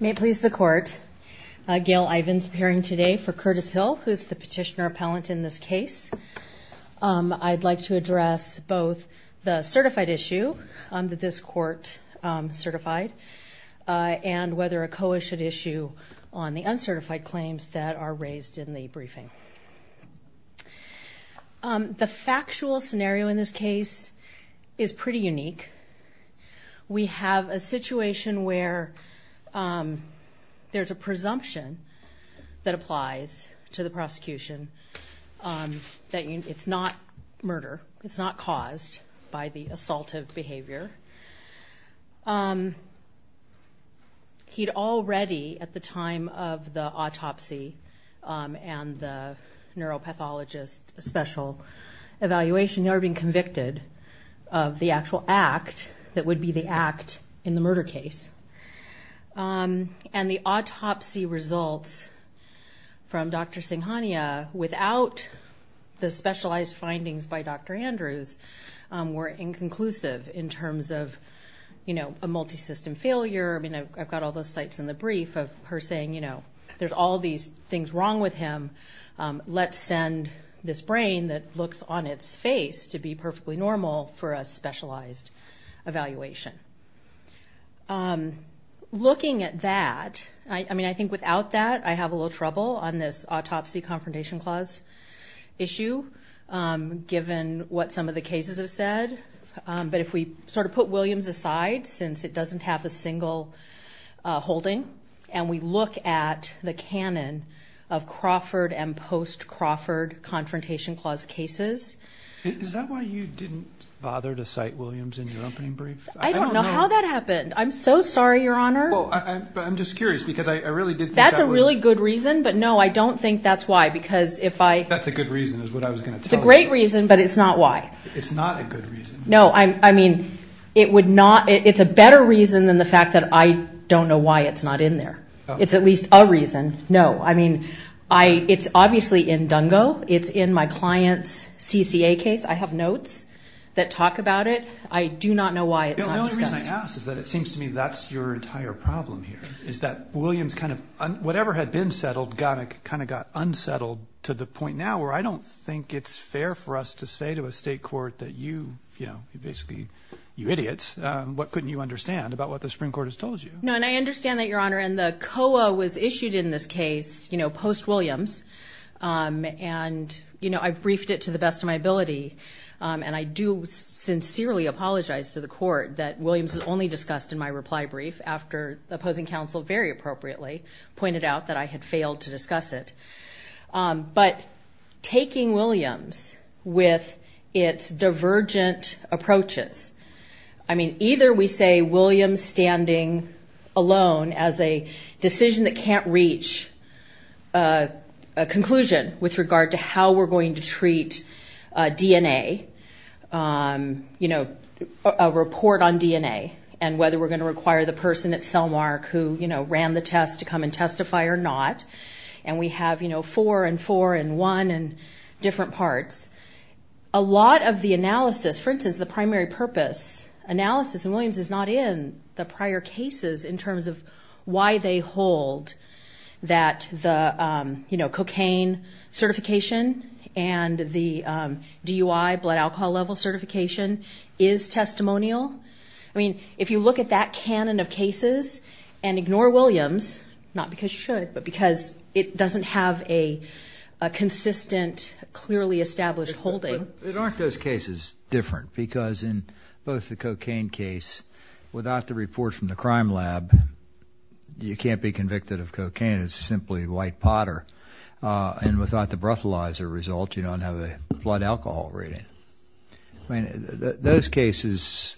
May it please the court, Gail Ivins appearing today for Curtis Hill who's the petitioner appellant in this case. I'd like to address both the certified issue that this court certified and whether a COA should issue on the uncertified claims that are raised in the briefing. The factual scenario in this case is pretty unique. We have a situation where there's a presumption that applies to the prosecution that it's not murder, it's not caused by the assaultive behavior. He'd already at the time of the autopsy and the of the actual act that would be the act in the murder case. And the autopsy results from Dr. Singhania without the specialized findings by Dr. Andrews were inconclusive in terms of you know a multi-system failure. I mean I've got all those sites in the brief of her saying you know there's all these things wrong with him let's send this brain that looks on its face to be perfectly normal for a specialized evaluation. Looking at that I mean I think without that I have a little trouble on this autopsy confrontation clause issue given what some of the cases have said. But if we sort of put Williams aside since it doesn't have a single holding and we look at the canon of Crawford and post Crawford confrontation clause cases. Is that why you didn't bother to cite Williams in your opening brief? I don't know how that happened. I'm so sorry your honor. I'm just curious because I really did. That's a really good reason but no I don't think that's why because if I. That's a good reason is what I was going to tell you. It's a great reason but it's not why. It's not a good reason. No I mean it would not it's a better reason than the fact that I don't know why it's not in there. It's at least a reason. No I mean I it's obviously in Dungo. It's in my clients CCA case. I have notes that talk about it. I do not know why it's not discussed. The only reason I ask is that it seems to me that's your entire problem here. Is that Williams kind of whatever had been settled got it kind of got unsettled to the point now where I don't think it's fair for us to say to a state court that you you know basically you idiots what couldn't you understand about what the I understand that your honor and the COA was issued in this case you know post Williams and you know I've briefed it to the best of my ability and I do sincerely apologize to the court that Williams was only discussed in my reply brief after the opposing counsel very appropriately pointed out that I had failed to discuss it but taking Williams with its divergent approaches I mean either we say Williams standing alone as a decision that can't reach a conclusion with regard to how we're going to treat DNA you know a report on DNA and whether we're going to require the person at Selmark who you know ran the test to come and testify or not and we have you know four and four and one and different parts a lot of the analysis for instance the primary purpose analysis and Williams is not in the prior cases in terms of why they hold that the you know cocaine certification and the DUI blood alcohol level certification is testimonial I mean if you look at that canon of cases and ignore Williams not because you should but because it doesn't have a consistent clearly established holding it aren't those cases different because in both the cocaine case without the report from the crime lab you can't be convicted of cocaine it's simply white potter and without the breathalyzer result you don't have a blood alcohol rating I mean those cases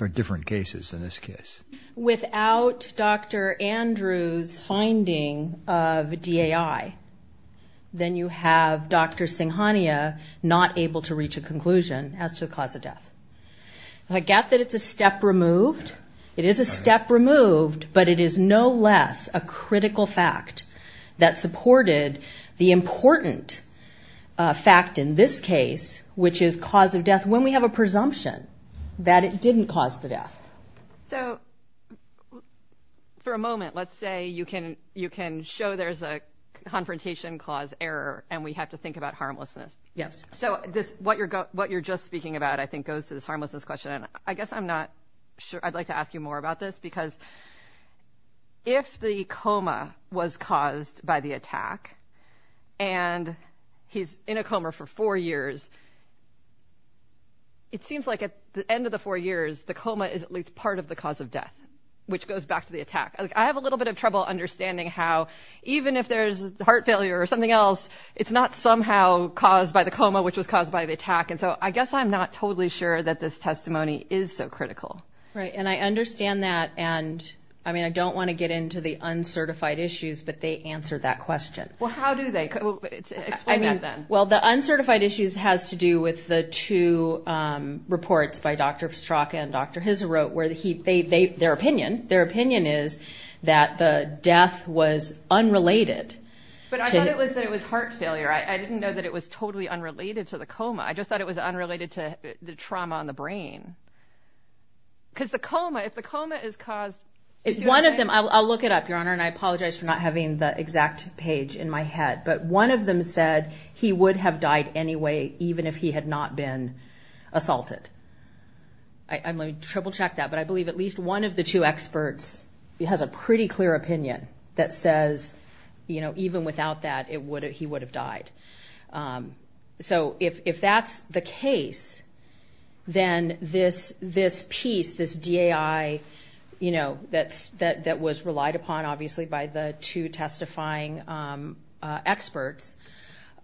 are different cases in this case without dr. Andrews finding of DAI then you have dr. Singh Hania not able to reach a conclusion as to the cause of death I get that it's a step removed it is a step removed but it is no less a critical fact that supported the important fact in this case which is cause of death when we have a presumption that it didn't cause the death so for a moment let's say you can you can show there's a confrontation clause error and we have to think about harmlessness yes so this what you're got what you're just speaking about I think goes to this harmless this question I guess I'm not sure I'd like to ask you more about this because if the coma was caused by the attack and he's in a coma for four years it seems like at the end of the four years the coma is at least part of the cause of death which goes back to the attack I have a little bit of trouble understanding how even if there's heart failure or something else it's not somehow caused by the coma which was caused by the attack and so I guess I'm not totally sure that this testimony is so critical right and I understand that and I mean I don't want to get into the uncertified issues but answer that question well how do they well the uncertified issues has to do with the two reports by dr. Strzok and dr. his wrote where the heat they they their opinion their opinion is that the death was unrelated but I thought it was that it was heart failure I didn't know that it was totally unrelated to the coma I just thought it was unrelated to the trauma on the brain because the coma if the coma is caused it's one of them I'll look it up your honor and I exact page in my head but one of them said he would have died anyway even if he had not been assaulted I'm going to triple check that but I believe at least one of the two experts it has a pretty clear opinion that says you know even without that it would have he would have died so if that's the case then this this piece this DAI you know that's that that was relied upon obviously by the two testifying experts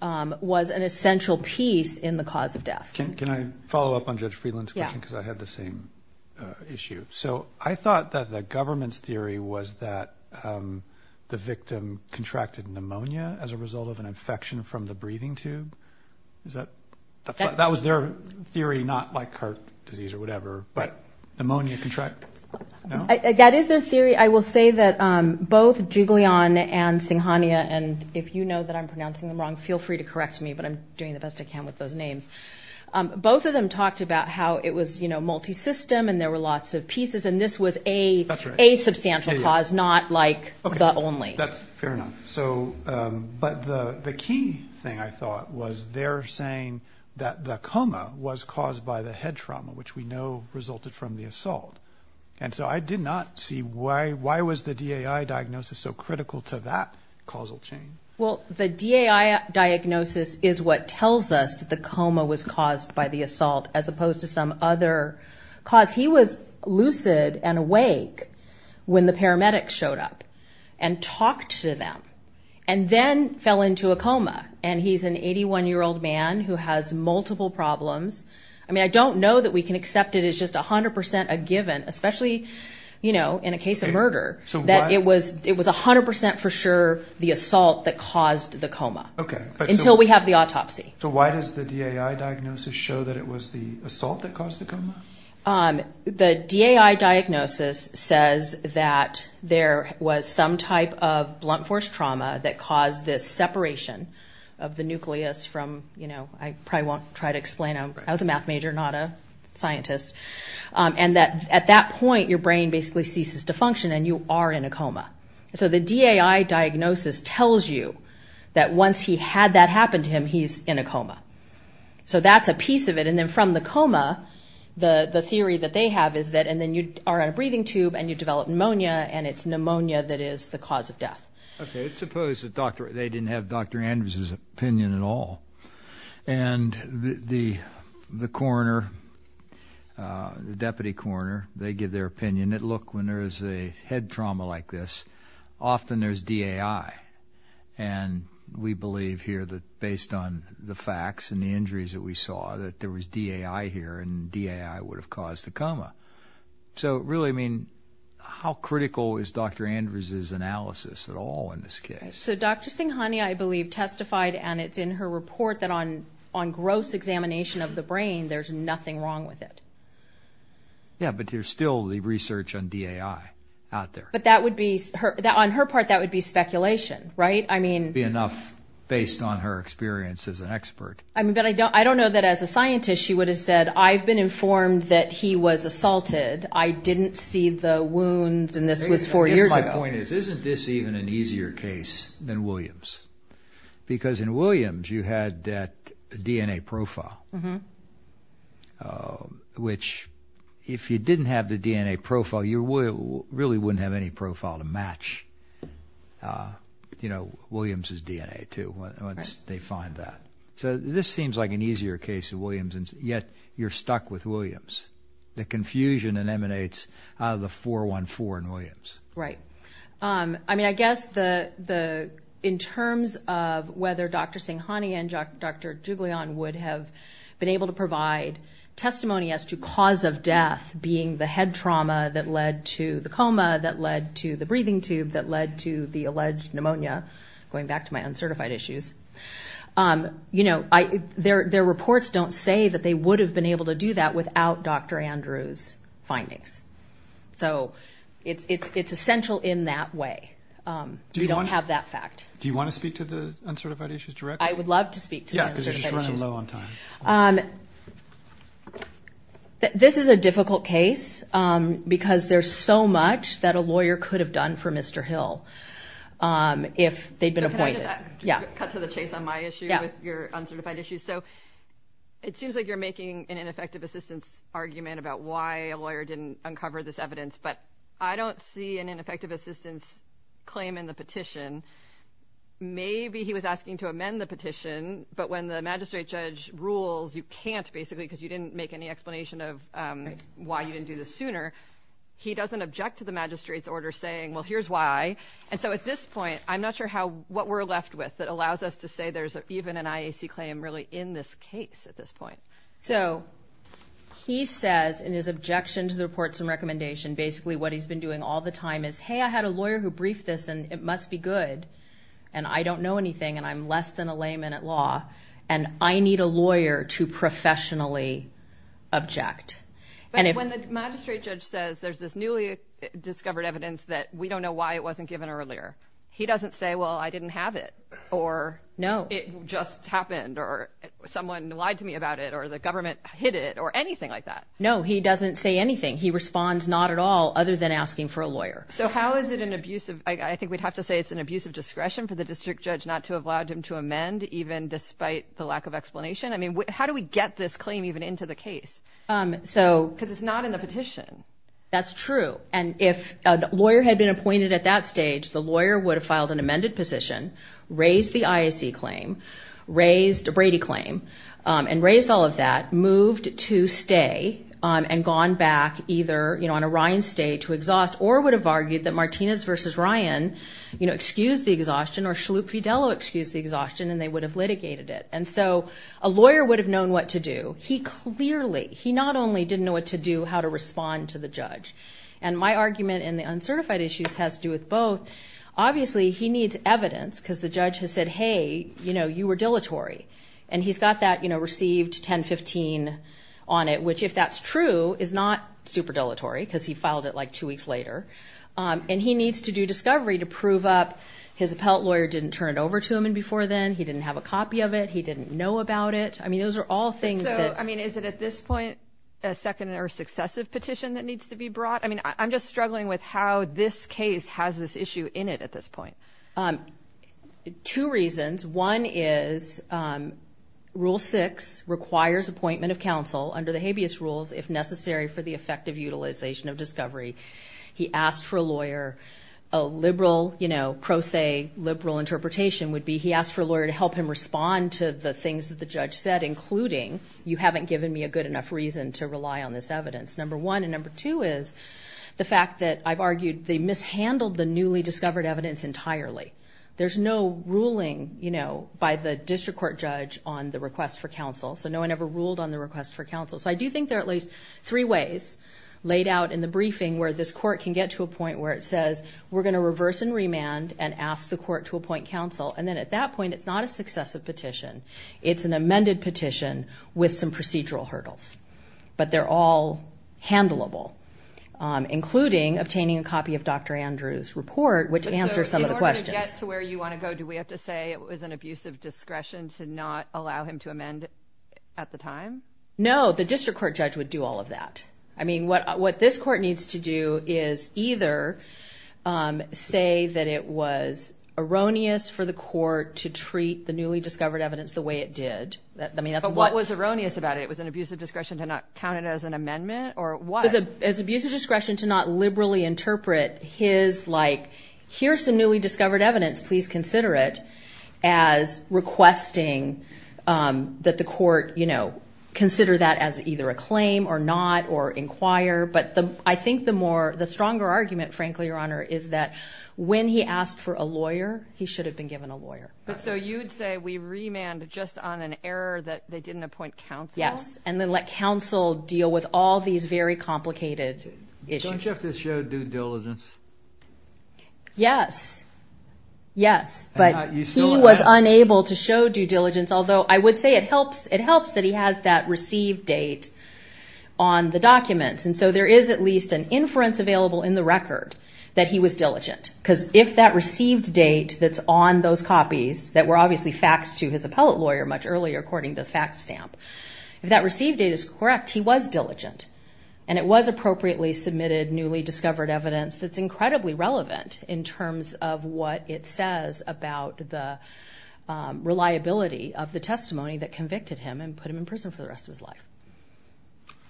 was an essential piece in the cause of death can I follow up on judge Freeland yeah because I had the same issue so I thought that the government's theory was that the victim contracted pneumonia as a result of an infection from the breathing tube is that that was their theory not like heart disease or whatever but pneumonia contract that is their theory I will say both jiggly on and singhania and if you know that I'm pronouncing them wrong feel free to correct me but I'm doing the best I can with those names both of them talked about how it was you know multi-system and there were lots of pieces and this was a a substantial cause not like only that's fair enough so but the the key thing I thought was they're saying that the coma was caused by the head trauma which we know resulted from the assault and so I did see why why was the DAI diagnosis so critical to that causal chain well the DAI diagnosis is what tells us that the coma was caused by the assault as opposed to some other cause he was lucid and awake when the paramedics showed up and talked to them and then fell into a coma and he's an 81 year old man who has multiple problems I mean I don't know that we can accept it is just a hundred percent a given especially you know in a case of murder so that it was it was a hundred percent for sure the assault that caused the coma okay until we have the autopsy so why does the DAI diagnosis show that it was the assault that caused the coma the DAI diagnosis says that there was some type of blunt force trauma that caused this separation of the nucleus from you know I probably try to explain I was a math major not a scientist and that at that point your brain basically ceases to function and you are in a coma so the DAI diagnosis tells you that once he had that happen to him he's in a coma so that's a piece of it and then from the coma the the theory that they have is that and then you are on a breathing tube and you develop pneumonia and it's pneumonia that is the cause of death okay it's supposed to doctor they didn't have dr. Andrews's opinion at all and the the coroner the deputy coroner they give their opinion that look when there is a head trauma like this often there's DAI and we believe here that based on the facts and the injuries that we saw that there was DAI here and DAI would have caused the coma so really I mean how critical is dr. Andrews's analysis at all in this case so dr. Singh honey I believe testified and it's in her report that on on gross examination of the brain there's nothing wrong with it yeah but you're still the research on DAI out there but that would be her that on her part that would be speculation right I mean be enough based on her experience as an expert I mean but I don't I don't know that as a scientist she would have said I've been informed that he was assaulted I didn't see the wounds and this was four years my point because in Williams you had that DNA profile mm-hmm which if you didn't have the DNA profile you will really wouldn't have any profile to match you know Williams's DNA to once they find that so this seems like an easier case of Williams and yet you're stuck with Williams the confusion and emanates out right I mean I guess the the in terms of whether dr. Singh honey and dr. jiggly on would have been able to provide testimony as to cause of death being the head trauma that led to the coma that led to the breathing tube that led to the alleged pneumonia going back to my uncertified issues you know I their their reports don't say that they would have been able to do that without dr. Andrews findings so it's it's it's essential in that way do you don't have that fact do you want to speak to the uncertified issues direct I would love to speak yeah this is a difficult case because there's so much that a lawyer could have done for mr. Hill if they've been appointed yeah cut to the chase on my issue with your uncertified issues so it seems like you're making an why a lawyer didn't uncover this evidence but I don't see an ineffective assistance claim in the petition maybe he was asking to amend the petition but when the magistrate judge rules you can't basically because you didn't make any explanation of why you didn't do this sooner he doesn't object to the magistrates order saying well here's why and so at this point I'm not sure how what we're left with that allows us to say there's even an IAC claim really in this case at this point so he says in his objection to the reports and recommendation basically what he's been doing all the time is hey I had a lawyer who briefed this and it must be good and I don't know anything and I'm less than a layman at law and I need a lawyer to professionally object and if when the magistrate judge says there's this newly discovered evidence that we don't know why it wasn't given earlier he doesn't say well I didn't have it or no it just happened or someone lied to me about it or the government hid it or anything like that no he doesn't say anything he responds not at all other than asking for a lawyer so how is it an abusive I think we'd have to say it's an abuse of discretion for the district judge not to have allowed him to amend even despite the lack of explanation I mean how do we get this claim even into the case so because it's not in the petition that's true and if a lawyer had been appointed at that stage the lawyer would have filed an amended position raised the IAC claim raised a Brady claim and raised all of that moved to stay and gone back either you know on a Ryan state to exhaust or would have argued that Martinez versus Ryan you know excuse the exhaustion or Shalhoub Fidelo excuse the exhaustion and they would have litigated it and so a lawyer would have known what to do he clearly he not only didn't know what to do how to respond to the judge and my argument in the uncertified issues has to do with both obviously he needs evidence because the judge has said hey you know you were dilatory and he's got that you know received 1015 on it which if that's true is not super dilatory because he filed it like two weeks later and he needs to do discovery to prove up his appellate lawyer didn't turn it over to him and before then he didn't have a copy of it he didn't know about it I mean those are all things I mean is it at this point a second or successive petition that needs to be brought I mean I'm just struggling with how this case has this issue in it at this point two reasons one is rule six requires appointment of counsel under the habeas rules if necessary for the effective utilization of discovery he asked for a lawyer a liberal you know pro se liberal interpretation would be he asked for a lawyer to help him respond to the things that the judge said including you haven't given me a good enough reason to rely on this evidence number one and number two is the fact that I've argued they handled the newly discovered evidence entirely there's no ruling you know by the district court judge on the request for counsel so no one ever ruled on the request for counsel so I do think there at least three ways laid out in the briefing where this court can get to a point where it says we're gonna reverse and remand and ask the court to appoint counsel and then at that point it's not a successive petition it's an amended petition with some procedural hurdles but they're all handleable including obtaining a copy of dr. Andrews report which answers some of the questions to where you want to go do we have to say it was an abuse of discretion to not allow him to amend at the time no the district court judge would do all of that I mean what what this court needs to do is either say that it was erroneous for the court to treat the newly discovered evidence the way it did that I mean that's what was erroneous about it was an abuse of discretion to not count it as an amendment or what as abuse of discretion to not liberally interpret his like here's some newly discovered evidence please consider it as requesting that the court you know consider that as either a claim or not or inquire but the I think the more the stronger argument frankly your honor is that when he asked for a lawyer he should have been given a lawyer but so you'd say we remand just on an error yes and then let counsel deal with all these very complicated yes yes but he was unable to show due diligence although I would say it helps it helps that he has that received date on the documents and so there is at least an inference available in the record that he was diligent because if that received date that's on those copies that were obviously facts to his appellate lawyer much earlier according to the fact stamp if that received it is correct he was diligent and it was appropriately submitted newly discovered evidence that's incredibly relevant in terms of what it says about the reliability of the testimony that convicted him and put him in prison for the rest of his life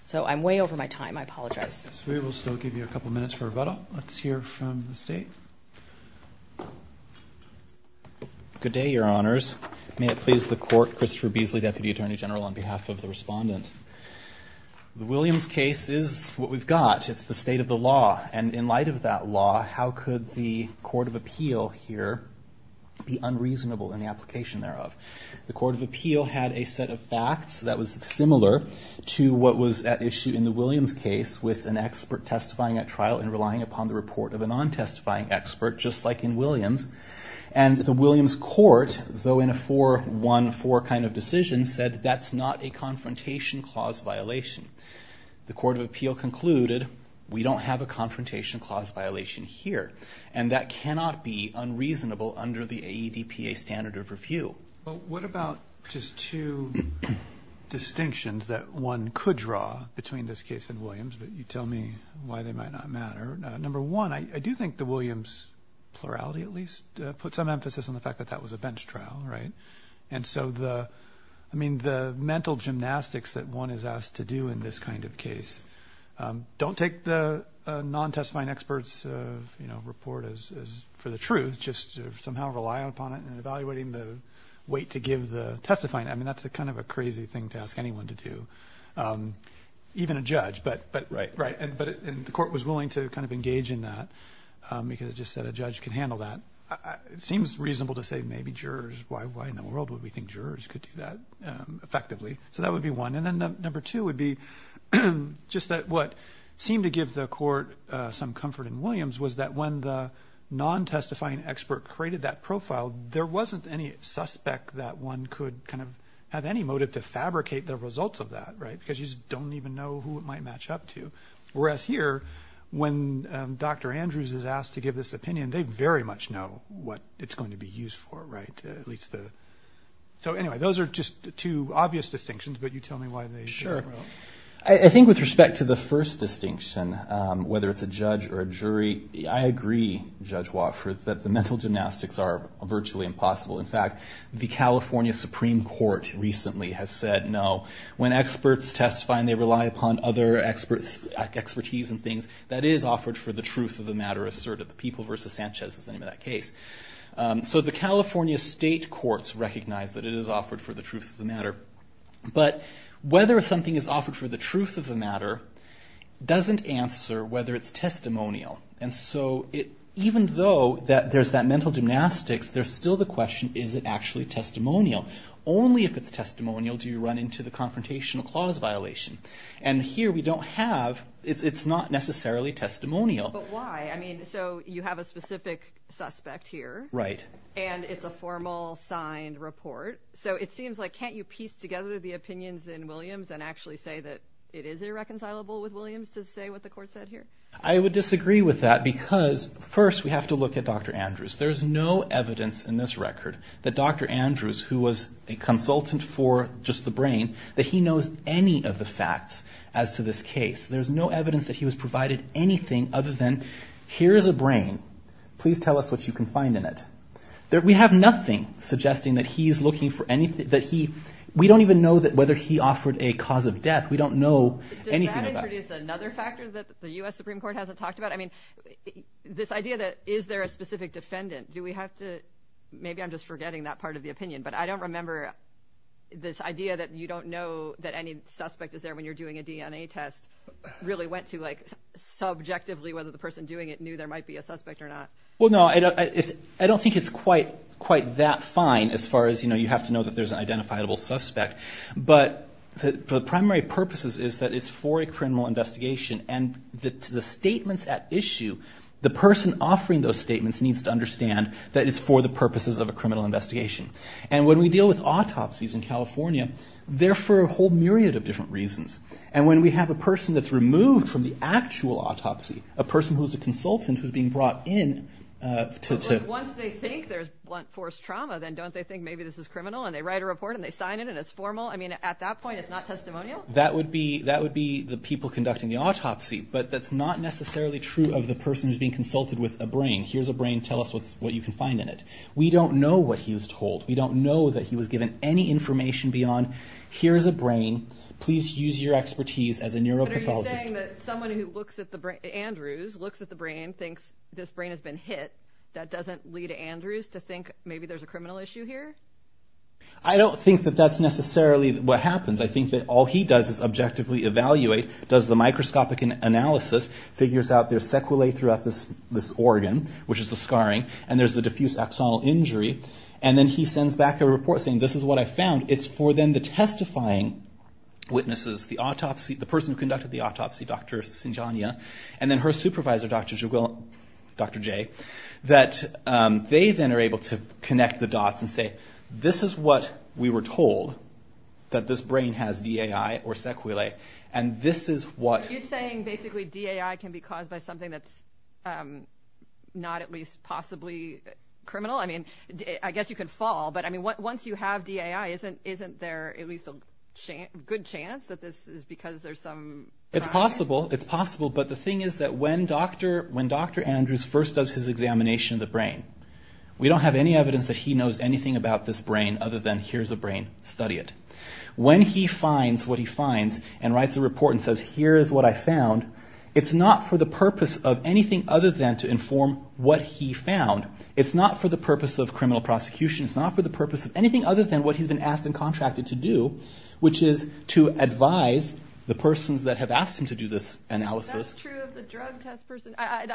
so I'm way over my time I apologize we will still give you a couple minutes for Christopher Beasley Deputy Attorney General on behalf of the respondent the Williams case is what we've got it's the state of the law and in light of that law how could the Court of Appeal here be unreasonable in the application thereof the Court of Appeal had a set of facts that was similar to what was at issue in the Williams case with an expert testifying at trial and relying upon the report of a non testifying expert just like in Williams and the 4-1-4 kind of decision said that's not a confrontation clause violation the Court of Appeal concluded we don't have a confrontation clause violation here and that cannot be unreasonable under the AEDPA standard of review but what about just two distinctions that one could draw between this case and Williams but you tell me why they might not matter number one I do think the Williams plurality at least put some emphasis on the fact that that was a and so the I mean the mental gymnastics that one is asked to do in this kind of case don't take the non testifying experts you know report as for the truth just somehow rely upon it and evaluating the weight to give the testifying I mean that's a kind of a crazy thing to ask anyone to do even a judge but but right right and but in the court was willing to kind of engage in that because it just said a judge can handle that it seems reasonable to say maybe jurors why in the world would we think jurors could do that effectively so that would be one and then number two would be just that what seemed to give the court some comfort in Williams was that when the non testifying expert created that profile there wasn't any suspect that one could kind of have any motive to fabricate the results of that right because you don't even know who it might match up to whereas here when dr. Andrews is asked to give this opinion they very much know what it's going to be used for right at least the so anyway those are just two obvious distinctions but you tell me why they sure I think with respect to the first distinction whether it's a judge or a jury I agree judge Wofford that the mental gymnastics are virtually impossible in fact the California Supreme Court recently has said no when experts testify and they rely upon other experts expertise and things that is offered for the truth of Sanchez is the name of that case so the California state courts recognize that it is offered for the truth of the matter but whether something is offered for the truth of the matter doesn't answer whether it's testimonial and so it even though that there's that mental gymnastics there's still the question is it actually testimonial only if it's testimonial do you run into the confrontational clause violation and here we don't have it's not necessarily testimonial so you have a specific suspect here right and it's a formal signed report so it seems like can't you piece together the opinions in Williams and actually say that it is irreconcilable with Williams to say what the court said here I would disagree with that because first we have to look at dr. Andrews there's no evidence in this record that dr. Andrews who was a consultant for just the brain that he knows any of the facts as to this case there's no evidence that he was provided anything other than here's a brain please tell us what you can find in it there we have nothing suggesting that he's looking for anything that he we don't even know that whether he offered a cause of death we don't know anything this idea that is there a specific defendant do we have to maybe I'm just forgetting that part of the opinion but I don't remember this idea that you don't know that any suspect is really went to like subjectively whether the person doing it knew there might be a suspect or not well no I don't I don't think it's quite quite that fine as far as you know you have to know that there's an identifiable suspect but the primary purposes is that it's for a criminal investigation and the statements at issue the person offering those statements needs to understand that it's for the purposes of a criminal investigation and when we deal with autopsies in California there for a whole myriad of different reasons and when we have a person that's removed from the actual autopsy a person who's a consultant who's being brought in to think there's blunt force trauma then don't they think maybe this is criminal and they write a report and they sign it and it's formal I mean at that point it's not testimonial that would be that would be the people conducting the autopsy but that's not necessarily true of the person who's being consulted with a brain here's a brain tell us what's what you can find in it we don't know what he was told we don't know that he was given any information beyond here's a brain please use your expertise as a neuropathologist. But are you saying that someone who looks at the brain, Andrews, looks at the brain thinks this brain has been hit that doesn't lead Andrews to think maybe there's a criminal issue here? I don't think that that's necessarily what happens I think that all he does is objectively evaluate does the microscopic analysis figures out there's sequelae throughout this this organ which is the scarring and there's the diffuse axonal injury and then he sends back a report saying this is what I found it's for then the testifying witnesses the autopsy the person who conducted the autopsy dr. Sinjaniya and then her supervisor dr. Juggul, dr. J that they then are able to connect the dots and say this is what we were told that this brain has DAI or sequelae and this is what you're saying basically DAI can be caused by something that's not at least possibly criminal I mean I guess you could fall but I mean what once you have DAI isn't isn't there at least a good chance that this is because there's some it's possible it's possible but the thing is that when dr. when dr. Andrews first does his examination of the brain we don't have any evidence that he knows anything about this brain other than here's a brain study it when he finds what he finds and writes a report and says here is what I found it's not for the purpose of anything other than to inform what he found it's not for the than what he's been asked and contracted to do which is to advise the persons that have asked him to do this analysis I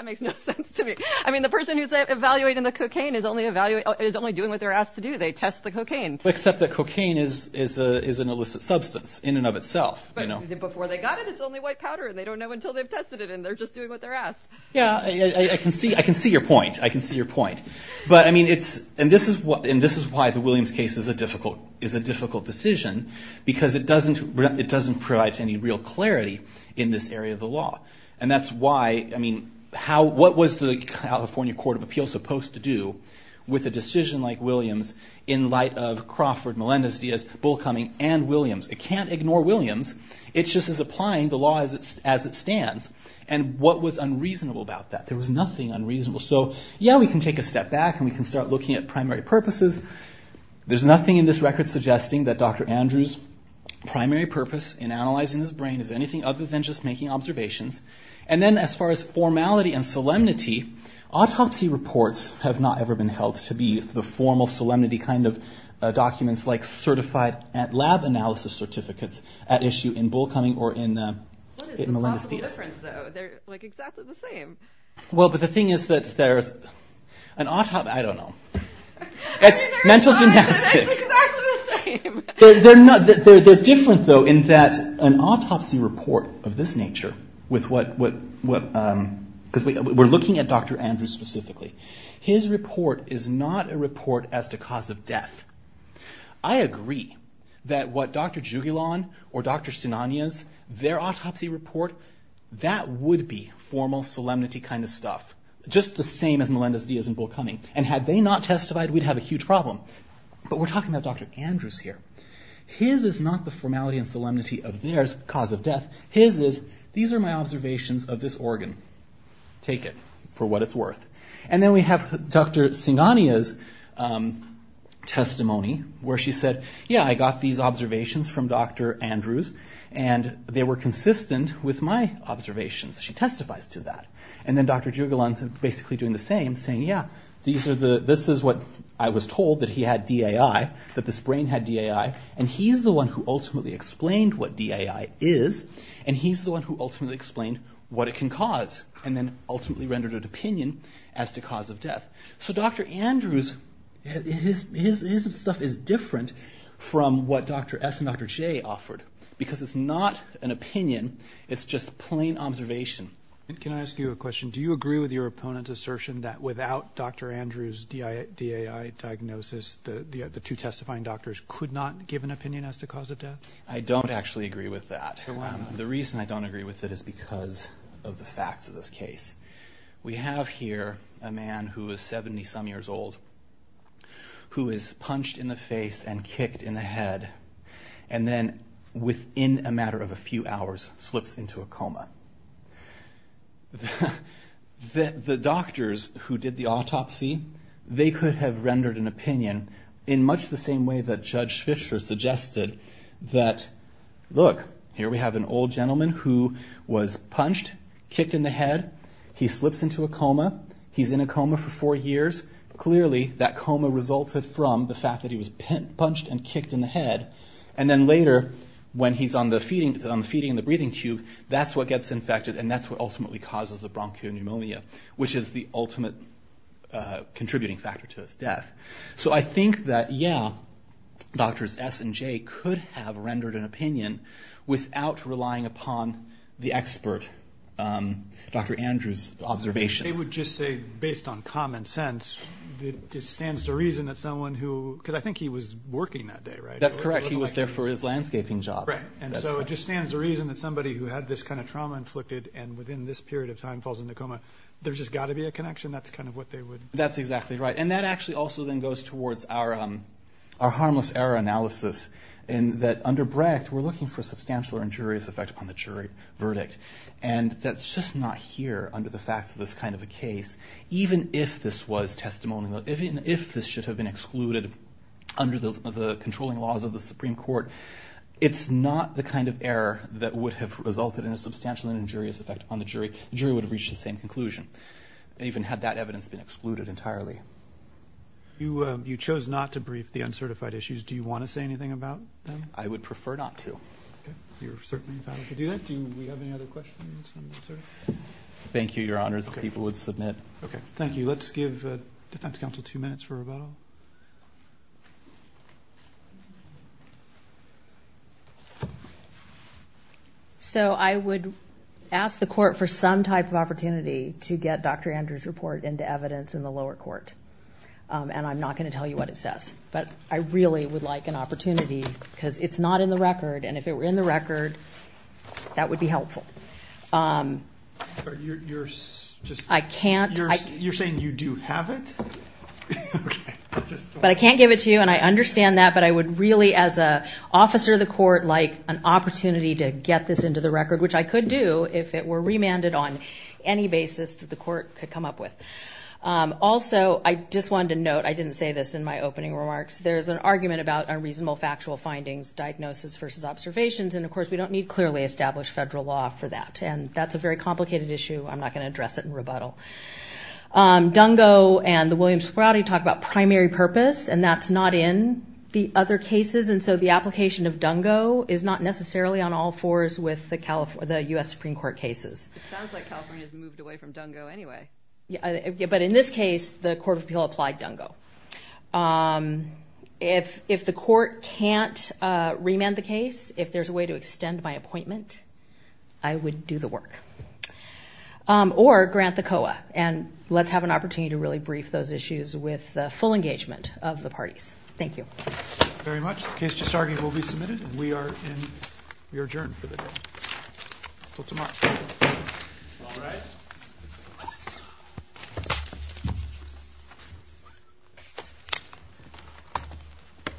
mean the person who's evaluating the cocaine is only evaluate is only doing what they're asked to do they test the cocaine except that cocaine is is a is an illicit substance in and of itself you know before they got it it's only white powder and they don't know until they've tested it and they're just doing what they're asked yeah I can see I can see your point I can see your point but I mean it's and this is what and this is why the Williams case is a difficult is a difficult decision because it doesn't it doesn't provide any real clarity in this area of the law and that's why I mean how what was the California Court of Appeals supposed to do with a decision like Williams in light of Crawford Melendez Diaz bull coming and Williams it can't ignore Williams it's just as applying the law as it's as it stands and what was unreasonable about that there was nothing unreasonable so yeah we can take a step back and we can start looking at primary purposes there's nothing in this record suggesting that dr. Andrews primary purpose in analyzing his brain is anything other than just making observations and then as far as formality and solemnity autopsy reports have not ever been held to be the formal solemnity kind of documents like certified at lab analysis certificates at issue in bull coming or in well but the thing is that there's an autopsy I don't know it's mental gymnastics they're not that they're different though in that an autopsy report of this nature with what what what because we were looking at dr. Andrews specifically his report is not a report as to cause of death I agree that what dr. Juul on or dr. Sinani is their autopsy report that would be formal solemnity kind of stuff just the same as Melendez Diaz and bull coming and had they not testified we'd have a huge problem but we're talking about dr. Andrews here his is not the formality and solemnity of theirs cause of death his is these are my observations of this organ take it for Sinani is testimony where she said yeah I got these observations from dr. Andrews and they were consistent with my observations she testifies to that and then dr. Juul on to basically doing the same saying yeah these are the this is what I was told that he had DAI that this brain had DAI and he's the one who ultimately explained what DAI is and he's the one who ultimately explained what it can cause and then ultimately rendered an opinion as to cause of death so dr. Andrews his stuff is different from what dr. S and dr. J offered because it's not an opinion it's just plain observation and can I ask you a question do you agree with your opponent assertion that without dr. Andrews DIA DAI diagnosis the the two testifying doctors could not give an opinion as to cause of death I don't actually agree with that the reason I don't agree with it is because of the facts of this case we have here a man who is 70 some years old who is punched in the face and kicked in the head and then within a matter of a few hours slips into a coma the doctors who did the autopsy they could have rendered an opinion in much the same way that judge Fisher suggested that look here we have an old gentleman who was punched kicked in the head he slips into a coma he's in a coma for four years clearly that coma resulted from the fact that he was punched and kicked in the head and then later when he's on the feeding on the feeding the breathing tube that's what gets infected and that's what ultimately causes the bronchial pneumonia which is the ultimate contributing factor to his death so I think that yeah doctors S and Dr. Andrews observation they would just say based on common sense it stands to reason that someone who could I think he was working that day right that's correct he was there for his landscaping job right and so it just stands the reason that somebody who had this kind of trauma inflicted and within this period of time falls into coma there's just got to be a connection that's kind of what they would that's exactly right and that actually also then goes towards our our harmless error analysis and that under brecht we're looking for here under the facts of this kind of a case even if this was testimonial even if this should have been excluded under the controlling laws of the Supreme Court it's not the kind of error that would have resulted in a substantial injurious effect on the jury jury would have reached the same conclusion even had that evidence been excluded entirely you you chose not to brief the uncertified issues do you want to say anything about them I would prefer not to thank you your honors people would submit okay thank you let's give defense counsel two minutes for a vote so I would ask the court for some type of opportunity to get dr. Andrews report into evidence in the lower court and I'm not going to tell you what it says but I can't you're saying you do have it but I can't give it to you and I understand that but I would really as a officer of the court like an opportunity to get this into the record which I could do if it were remanded on any basis that the court could come up with also I just wanted to note I didn't say this in my opening remarks there's an argument about a reasonable factual findings diagnosis versus observations and of course we don't need clearly established federal law for that and that's a very complicated issue I'm not going to address it in rebuttal Dungo and the Williams Brody talk about primary purpose and that's not in the other cases and so the application of Dungo is not necessarily on all fours with the California the US Supreme Court cases anyway yeah but in this case the Court of Appeal applied Dungo if if the court can't remand the case if there's a way to extend my appointment I would do the work or grant the COA and let's have an opportunity to really brief those issues with the full engagement of the parties thank you very much the case just arguing will be submitted we are in your adjourn for the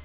day.